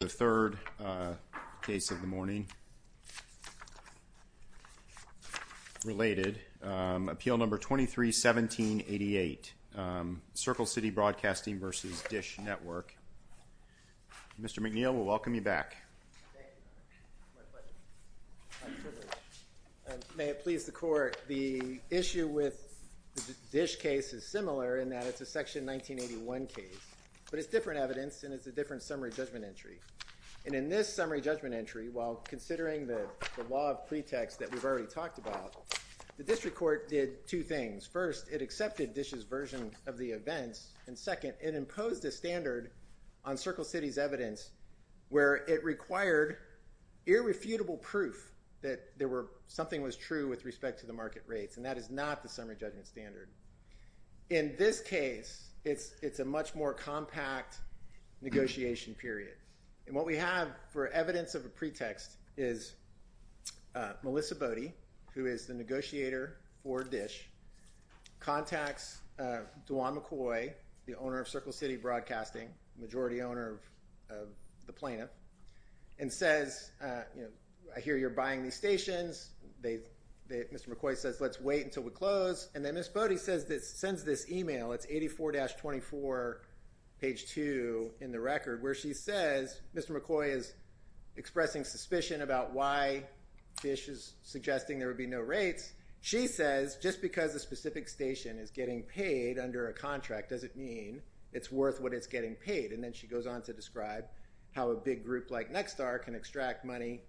The third case of the morning, related, Appeal No. 23-17-88, Circle City Broadcasting v. DISH Network. Mr. McNeil, we'll welcome you back. May it please the Court, the issue with the DISH case is similar in that it's a Section 1981 case, but it's different evidence and it's a different summary judgment entry. And in this summary judgment entry, while considering the law of pretext that we've already talked about, the District Court did two things. First, it accepted DISH's version of the events, and second, it imposed a standard on Circle City's evidence where it required irrefutable proof that something was true with respect to the market rates. And that is not the summary judgment standard. In this case, it's a much more compact negotiation period. And what we have for evidence of a pretext is Melissa Bodie, who is the negotiator for DISH, contacts DeJuan McCoy, the owner of Circle City Broadcasting, majority owner of the plaintiff, and says, you know, I hear you're buying these stations, Mr. McCoy says let's wait until we close, and then Ms. Bodie sends this email, it's 84-24, page 2 in the record, where she says Mr. McCoy is expressing suspicion about why DISH is suggesting there would be no rates. She says just because a specific station is getting paid under a contract doesn't mean it's worth what it's getting paid. And then she goes on to describe how a big group like Nexstar can extract money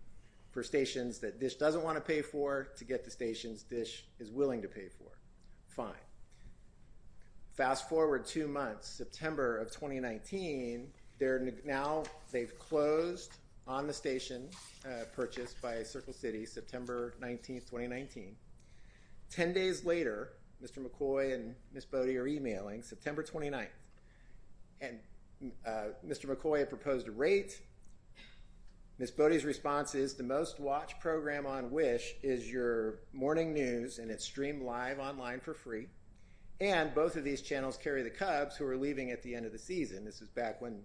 for stations that DISH doesn't want to pay for to get the stations DISH is willing to pay for. Fine. Fast forward two months, September of 2019, now they've closed on the station purchased by Circle City, September 19th, 2019. Ten days later, Mr. McCoy and Ms. Bodie are emailing, September 29th, and Mr. McCoy proposed a rate, Ms. Bodie's response is the most watched program on Wish is your morning news and it's streamed live online for free, and both of these channels carry the Cubs who are leaving at the end of the season, this is back when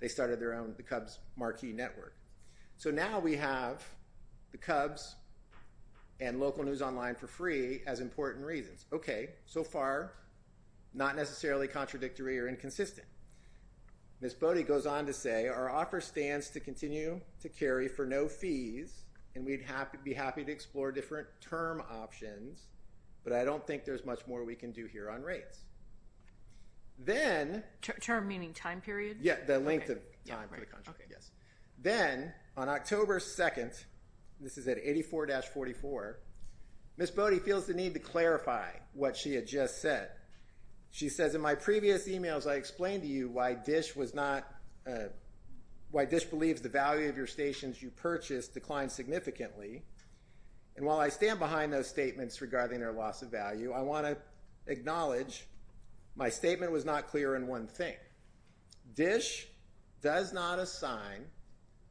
they started their own, the Cubs marquee network. So now we have the Cubs and local news online for free as important reasons. Okay, so far, not necessarily contradictory or inconsistent. Ms. Bodie goes on to say, our offer stands to continue to carry for no fees and we'd be happy to explore different term options, but I don't think there's much more we can do here on rates. Term meaning time period? Yeah, the length of time for the contract, yes. Then on October 2nd, this is at 84-44, Ms. Bodie feels the need to clarify what she had just said. She says, in my previous emails, I explained to you why DISH was not, why DISH believes the value of your stations you purchased declined significantly, and while I stand behind those statements regarding their loss of value, I want to acknowledge my statement was not clear on one thing. DISH does not assign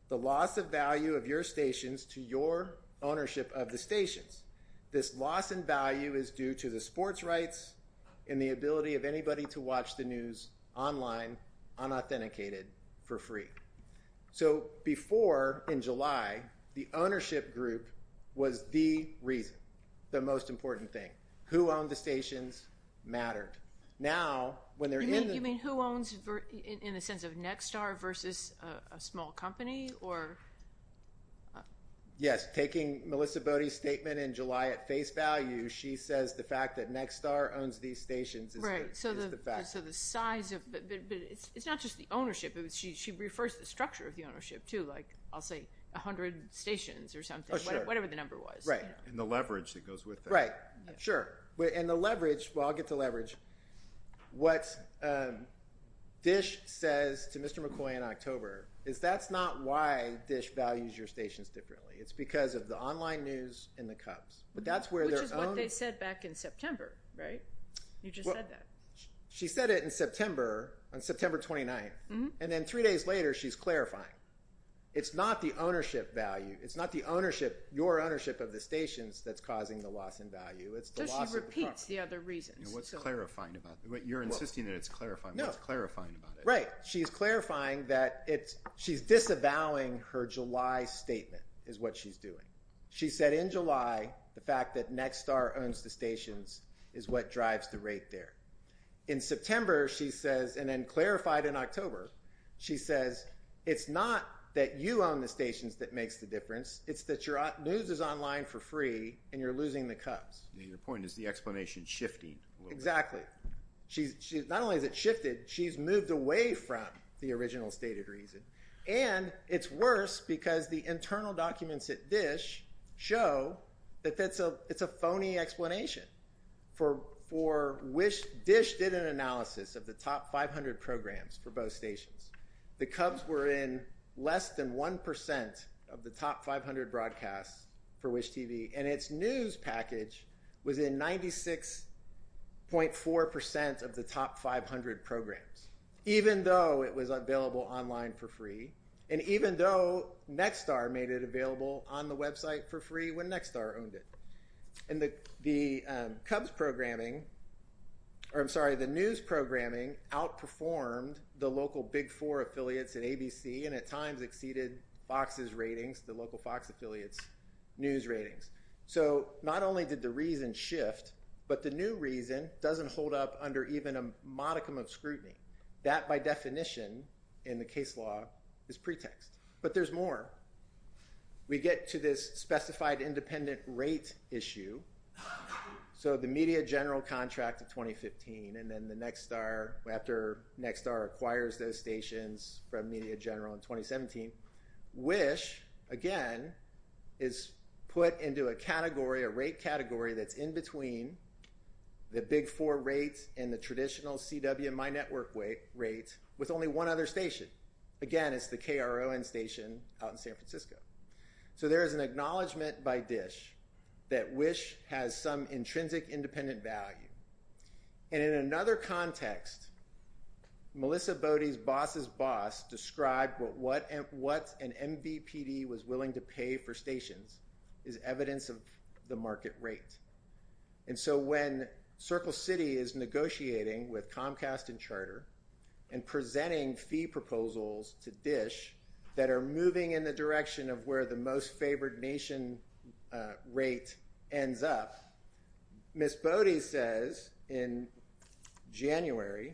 the loss of value of your stations to your ownership of the stations. This loss in value is due to the sports rights and the ability of anybody to watch the news online, unauthenticated, for free. So before, in July, the ownership group was the reason, the most important thing. Who owned the stations mattered. Now when they're in the- You mean who owns, in the sense of Nexstar versus a small company, or? Yes, taking Melissa Bodie's statement in July at face value, she says the fact that Nexstar owns these stations is the fact. So the size of, but it's not just the ownership, she refers to the structure of the ownership too, like I'll say 100 stations or something, whatever the number was. Right. And the leverage that goes with that. Right. Sure. And the leverage, well I'll get to leverage, what DISH says to Mr. McCoy in October is that's not why DISH values your stations differently. It's because of the online news and the Cubs. But that's where their own- Which is what they said back in September, right? You just said that. She said it in September, on September 29th, and then three days later she's clarifying. It's not the ownership value, it's not the ownership, your ownership of the stations that's causing the loss in value, it's the loss of the property. So she repeats the other reasons. What's clarifying about that? You're insisting that it's clarifying, what's clarifying about it? Right. She's clarifying that it's, she's disavowing her July statement is what she's doing. She said in July the fact that Nexstar owns the stations is what drives the rate there. In September she says, and then clarified in October, she says it's not that you own the stations that makes the difference, it's that your news is online for free and you're losing the Cubs. Your point is the explanation's shifting a little bit. Exactly. In fact, not only is it shifted, she's moved away from the original stated reason. And it's worse because the internal documents at DISH show that it's a phony explanation. For WISH, DISH did an analysis of the top 500 programs for both stations. The Cubs were in less than 1% of the top 500 broadcasts for WISH-TV, and its news package was in 96.4% of the top 500 programs, even though it was available online for free, and even though Nexstar made it available on the website for free when Nexstar owned it. And the Cubs programming, or I'm sorry, the news programming outperformed the local Big Four affiliates at ABC and at times exceeded Fox's ratings, the local Fox affiliates' news ratings. So not only did the reason shift, but the new reason doesn't hold up under even a modicum of scrutiny. That by definition in the case law is pretext. But there's more. We get to this specified independent rate issue. So the media general contract of 2015, and then the Nexstar, after Nexstar acquires those into a category, a rate category that's in between the Big Four rates and the traditional CW and MyNetwork rates with only one other station. Again, it's the KRON station out in San Francisco. So there is an acknowledgment by DISH that WISH has some intrinsic independent value. And in another context, Melissa Bodie's Boss is Boss described what an MVPD was willing to pay for stations is evidence of the market rate. And so when Circle City is negotiating with Comcast and Charter and presenting fee proposals to DISH that are moving in the direction of where the most favored nation rate ends up, Miss Bodie says in January,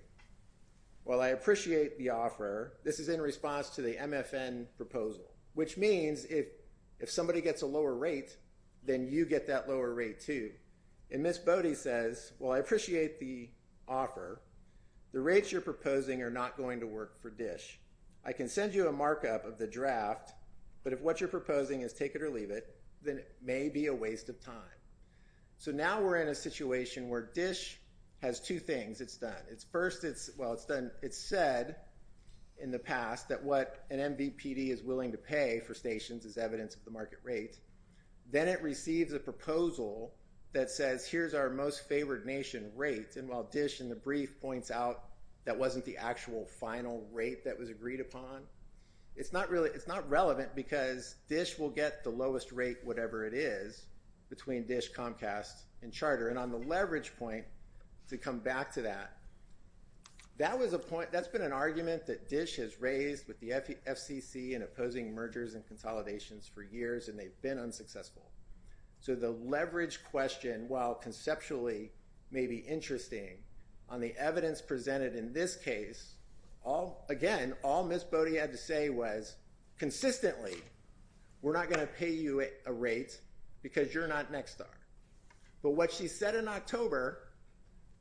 well, I appreciate the offer. This is in response to the MFN proposal, which means if somebody gets a lower rate, then you get that lower rate too. And Miss Bodie says, well, I appreciate the offer. The rates you're proposing are not going to work for DISH. I can send you a markup of the draft, but if what you're proposing is take it or leave it, then it may be a waste of time. So now we're in a situation where DISH has two things it's done. First, it's said in the past that what an MVPD is willing to pay for stations is evidence of the market rate. Then it receives a proposal that says, here's our most favored nation rate. And while DISH in the brief points out that wasn't the actual final rate that was agreed upon, it's not relevant because DISH will get the lowest rate, whatever it is, between DISH, Comcast, and Charter. And on the leverage point, to come back to that, that's been an argument that DISH has raised with the FCC in opposing mergers and consolidations for years, and they've been unsuccessful. So the leverage question, while conceptually may be interesting, on the evidence presented in this case, again, all Miss Bodie had to say was, consistently, we're not going to pay you a rate because you're not Nexstar. But what she said in October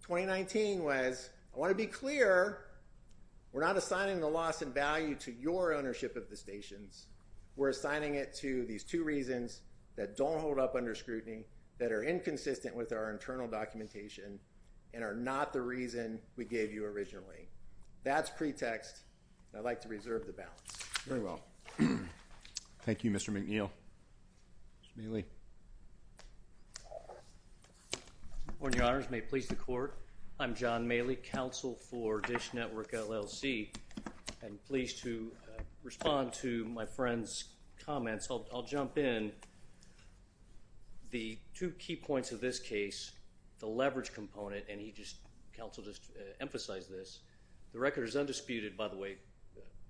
2019 was, I want to be clear, we're not assigning the loss in value to your ownership of the stations. We're assigning it to these two reasons that don't hold up under scrutiny, that are inconsistent with our internal documentation, and are not the reason we gave you originally. That's pretext. I'd like to reserve the balance. Very well. Thank you, Mr. McNeil. Mr. Maley. Your Honors, may it please the Court, I'm John Maley, counsel for DISH Network LLC. I'm pleased to respond to my friend's comments. I'll jump in. The two key points of this case, the leverage component, and he just, counsel just emphasized this, the record is undisputed, by the way,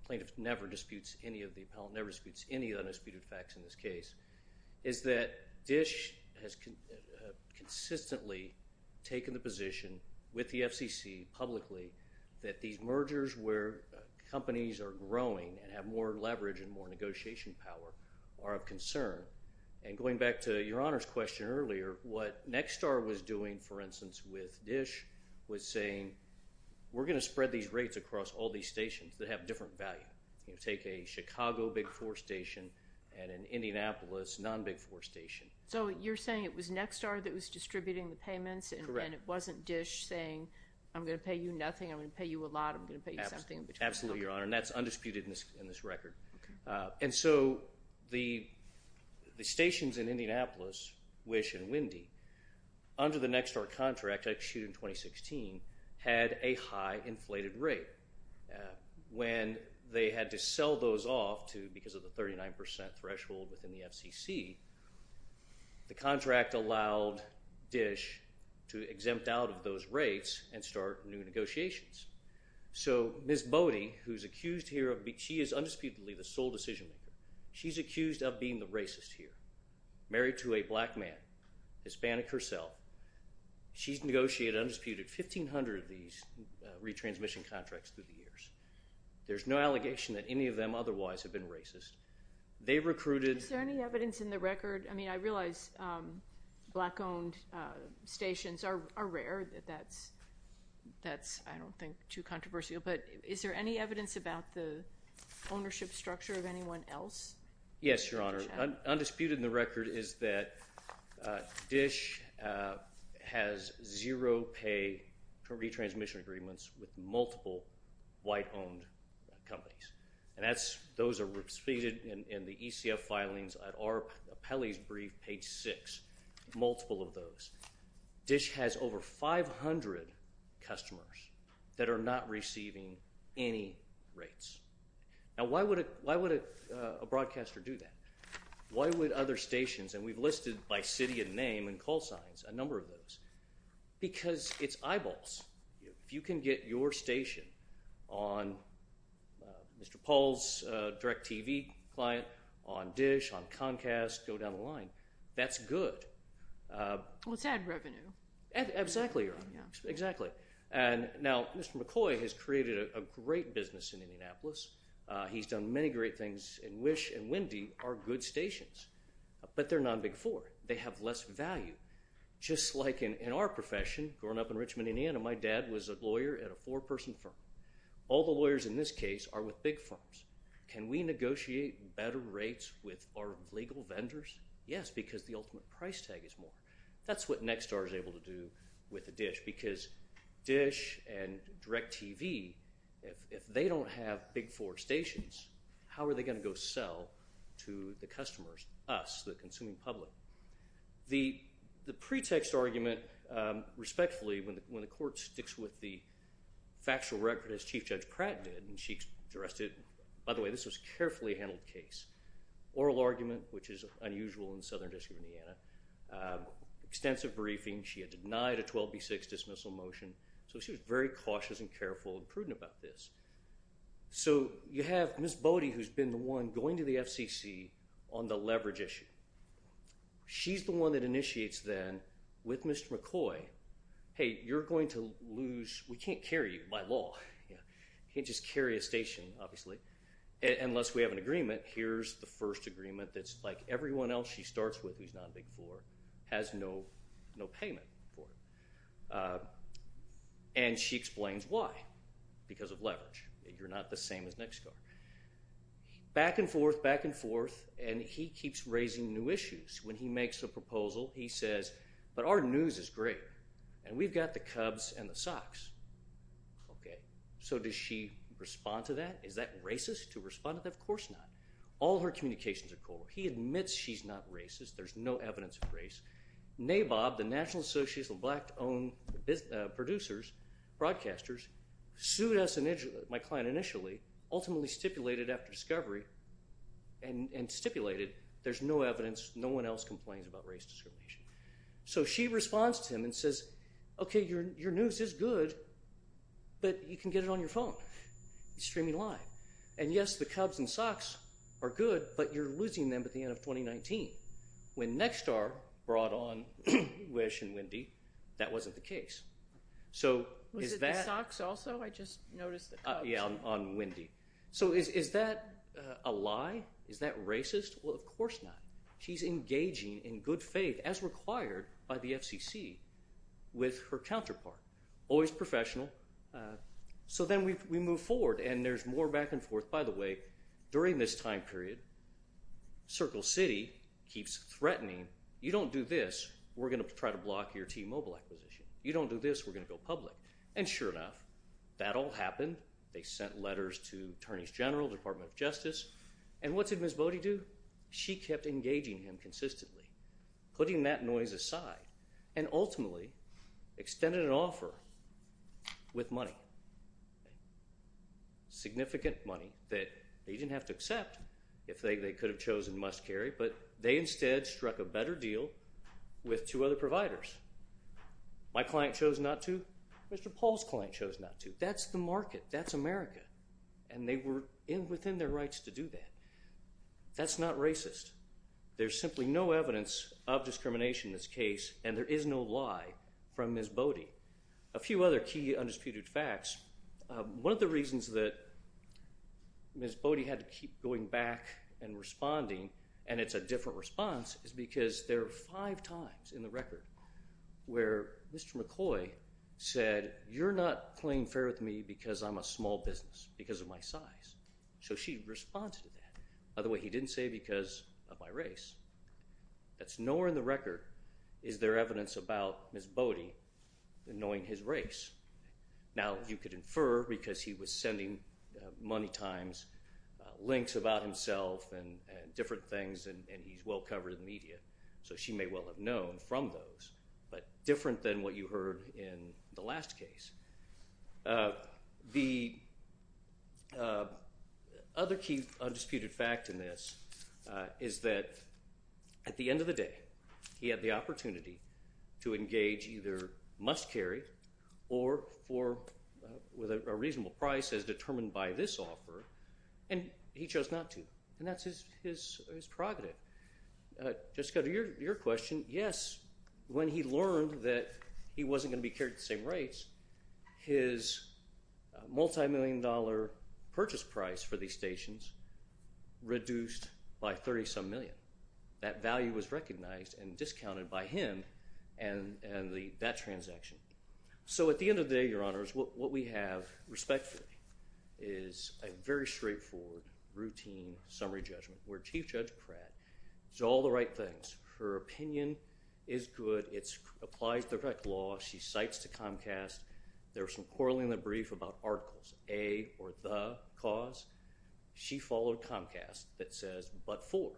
plaintiff never disputes any of the appellate, never disputes any undisputed facts in this case, is that DISH has consistently taken the position with the FCC publicly that these mergers where companies are growing and have more leverage and more negotiation power are of concern. And going back to your Honor's question earlier, what Nexstar was doing, for instance, with DISH, was saying, we're going to spread these rates across all these stations that have different value. Take a Chicago Big Four station and an Indianapolis non-Big Four station. So you're saying it was Nexstar that was distributing the payments and it wasn't DISH saying, I'm going to pay you nothing, I'm going to pay you a lot, I'm going to pay you something in between. Absolutely, Your Honor. And that's undisputed in this record. And so the stations in Indianapolis, Wish and Windy, under the Nexstar contract, actually issued in 2016, had a high inflated rate. When they had to sell those off to, because of the 39% threshold within the FCC, the contract allowed DISH to exempt out of those rates and start new negotiations. So Ms. Bowdy, who's accused here of, she is undisputedly the sole decision maker. She's accused of being the racist here, married to a black man, Hispanic herself. She's negotiated, undisputed, 1,500 of these retransmission contracts through the years. There's no allegation that any of them otherwise have been racist. They recruited... Is there any evidence in the record, I mean, I realize black owned stations are rare, that's I don't think too controversial, but is there any evidence about the ownership structure of anyone else? Yes, Your Honor. Undisputed in the record is that DISH has zero pay retransmission agreements with multiple white owned companies. And that's, those are repeated in the ECF filings at our appellee's brief, page six, multiple of those. DISH has over 500 customers that are not receiving any rates. Now, why would a broadcaster do that? Why would other stations, and we've listed by city and name and call signs a number of those? Because it's eyeballs. If you can get your station on Mr. Paul's DirecTV client, on DISH, on Comcast, go down the line, that's good. Let's add revenue. Exactly, Your Honor, exactly. And now, Mr. McCoy has created a great business in Indianapolis. He's done many great things in Wish and Windy are good stations, but they're non-Big Four. They have less value. Just like in our profession, growing up in Richmond, Indiana, my dad was a lawyer at a four person firm. All the lawyers in this case are with big firms. Can we negotiate better rates with our legal vendors? Yes, because the ultimate price tag is more. That's what Nexstar is able to do with the DISH, because DISH and DirecTV, if they don't have Big Four stations, how are they going to go sell to the customers, us, the consuming public? The pretext argument, respectfully, when the court sticks with the factual record as Chief Judge Pratt did, and she dressed it, by the way, this was a carefully handled case, oral argument, which is unusual in the Southern District of Indiana, extensive briefing. She had denied a 12B6 dismissal motion. So she was very cautious and careful and prudent about this. So you have Ms. Bodie, who's been the one going to the FCC on the leverage issue. She's the one that initiates then with Mr. McCoy, hey, you're going to lose, we can't carry you by law, you can't just carry a station, obviously, unless we have an agreement. But here's the first agreement that's like everyone else she starts with who's not Big Four, has no payment for it. And she explains why. Because of leverage. You're not the same as Nexstar. Back and forth, back and forth, and he keeps raising new issues. When he makes a proposal, he says, but our news is great, and we've got the Cubs and the Sox. Okay. So does she respond to that? Is that racist to respond to that? Of course not. All her communications are cold. He admits she's not racist. There's no evidence of race. NABOB, the National Association of Black-Owned Producers, Broadcasters, sued my client initially, ultimately stipulated after discovery, and stipulated there's no evidence, no one else complains about race discrimination. So she responds to him and says, okay, your news is good, but you can get it on your phone. He's streaming live. And yes, the Cubs and Sox are good, but you're losing them at the end of 2019. When Nexstar brought on Wish and Wendy, that wasn't the case. So is that... Was it the Sox also? I just noticed the Cubs. Yeah, on Wendy. So is that a lie? Is that racist? Well, of course not. She's engaging in good faith, as required by the FCC, with her counterpart. Always professional. So then we move forward, and there's more back and forth. By the way, during this time period, Circle City keeps threatening, you don't do this, we're going to try to block your T-Mobile acquisition. You don't do this, we're going to go public. And sure enough, that all happened. They sent letters to Attorneys General, Department of Justice. And what did Ms. Bodie do? She kept engaging him consistently, putting that noise aside, and ultimately extended an offer with money. Significant money that they didn't have to accept, if they could have chosen must carry, but they instead struck a better deal with two other providers. My client chose not to, Mr. Paul's client chose not to. That's the market. That's America. And they were within their rights to do that. That's not racist. There's simply no evidence of discrimination in this case, and there is no lie from Ms. Bodie. A few other key undisputed facts, one of the reasons that Ms. Bodie had to keep going back and responding, and it's a different response, is because there are five times in the record where Mr. McCoy said, you're not playing fair with me because I'm a small business, because of my size. So she responded to that. By the way, he didn't say because of my race. That's nowhere in the record is there evidence about Ms. Bodie knowing his race. Now you could infer because he was sending money times, links about himself, and different things, and he's well covered in the media, so she may well have known from those, but different than what you heard in the last case. The other key undisputed fact in this is that at the end of the day, he had the opportunity to engage either must carry or for a reasonable price as determined by this offer, and he chose not to. And that's his prerogative. Just to go to your question, yes, when he learned that he wasn't going to be carried the same rates, his multimillion dollar purchase price for these stations reduced by 30-some million. That value was recognized and discounted by him and that transaction. So at the end of the day, Your Honors, what we have respectfully is a very straightforward routine summary judgment where Chief Judge Pratt does all the right things. Her opinion is good. It applies direct law. She cites to Comcast, there's some quarreling in the brief about articles, a or the cause. She followed Comcast that says but for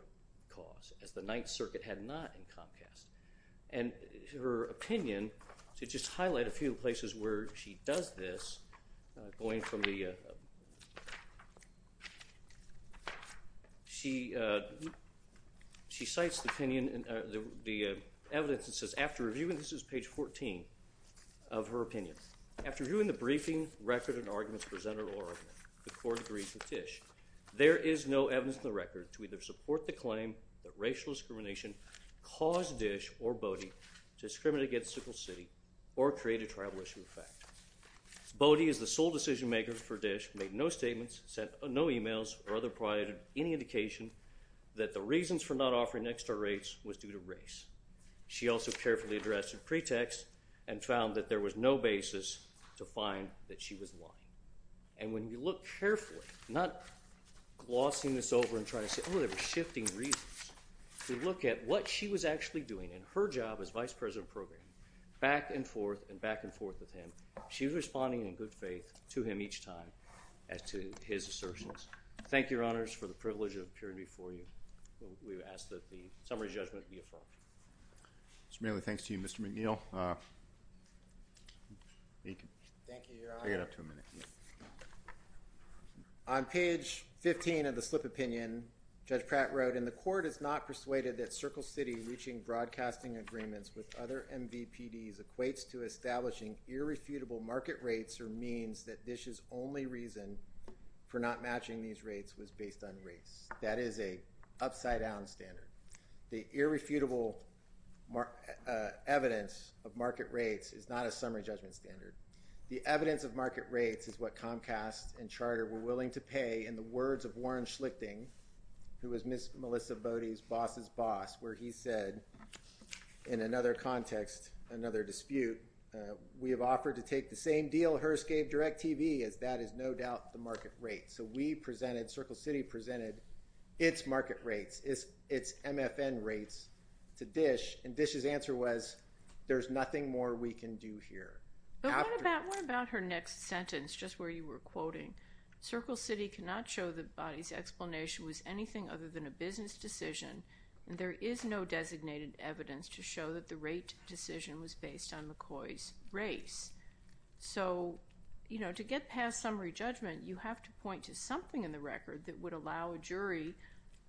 cause, as the Ninth Circuit had not in Comcast. And her opinion, to just highlight a few places where she does this, going from the, she cites the opinion, the evidence that says after reviewing, this is page 14 of her opinion, after reviewing the briefing record and arguments presented or the court agrees with Tisch, there is no evidence in the record to either support the claim that racial discrimination caused Dish or Bodie to discriminate against Sickle City or create a tribal issue of fact. Bodie is the sole decision maker for Dish, made no statements, sent no emails or other provided any indication that the reasons for not offering extra rates was due to race. She also carefully addressed the pretext and found that there was no basis to find that she was lying. And when you look carefully, not glossing this over and trying to say, oh, there were shifting reasons. If you look at what she was actually doing in her job as Vice President of Programming, back and forth and back and forth with him, she was responding in good faith to him each time as to his assertions. Thank you, Your Honors, for the privilege of appearing before you. We ask that the summary judgment be affirmed. Mr. Manley, thanks to you. Mr. McNeil, you can pick it up to a minute. On page 15 of the slip opinion, Judge Pratt wrote, and the court is not persuaded that Sickle City reaching broadcasting agreements with other MVPDs equates to establishing irrefutable market rates or means that DISH's only reason for not matching these rates was based on race. That is an upside-down standard. The irrefutable evidence of market rates is not a summary judgment standard. The evidence of market rates is what Comcast and Charter were willing to pay in the words of Warren Schlichting, who was Melissa Boddy's boss's boss, where he said, in another context, another dispute, we have offered to take the same deal Hearst gave DirecTV, as that is no doubt the market rate. So we presented, Circle City presented, its market rates, its MFN rates to DISH, and DISH's answer was, there's nothing more we can do here. But what about her next sentence, just where you were quoting, Circle City cannot show that Boddy's explanation was anything other than a business decision, and there is no proof that that decision was based on McCoy's race. So to get past summary judgment, you have to point to something in the record that would allow a jury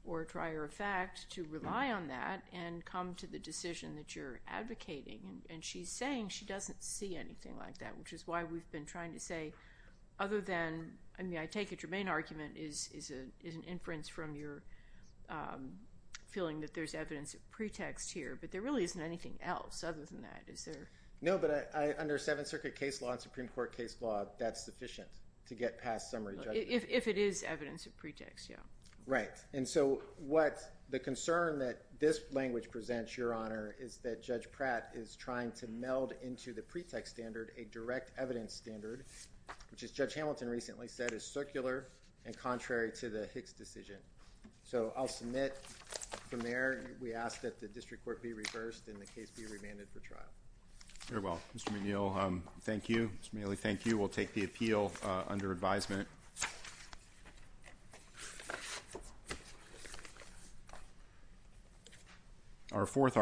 or a trier of fact to rely on that and come to the decision that you're advocating. And she's saying she doesn't see anything like that, which is why we've been trying to say, other than, I mean, I take it your main argument is an inference from your feeling that there's evidence of pretext here, but there really isn't anything else other than that. Is there? No, but under Seventh Circuit case law and Supreme Court case law, that's sufficient to get past summary judgment. If it is evidence of pretext, yeah. Right. And so what the concern that this language presents, Your Honor, is that Judge Pratt is trying to meld into the pretext standard a direct evidence standard, which as Judge Hamilton recently said, is circular and contrary to the Hicks decision. So I'll submit from there. We ask that the district court be reversed and the case be remanded for trial. Mr. McNeil, thank you. Mr. McNeil, thank you. We'll take the appeal under advisement. Our fourth argument.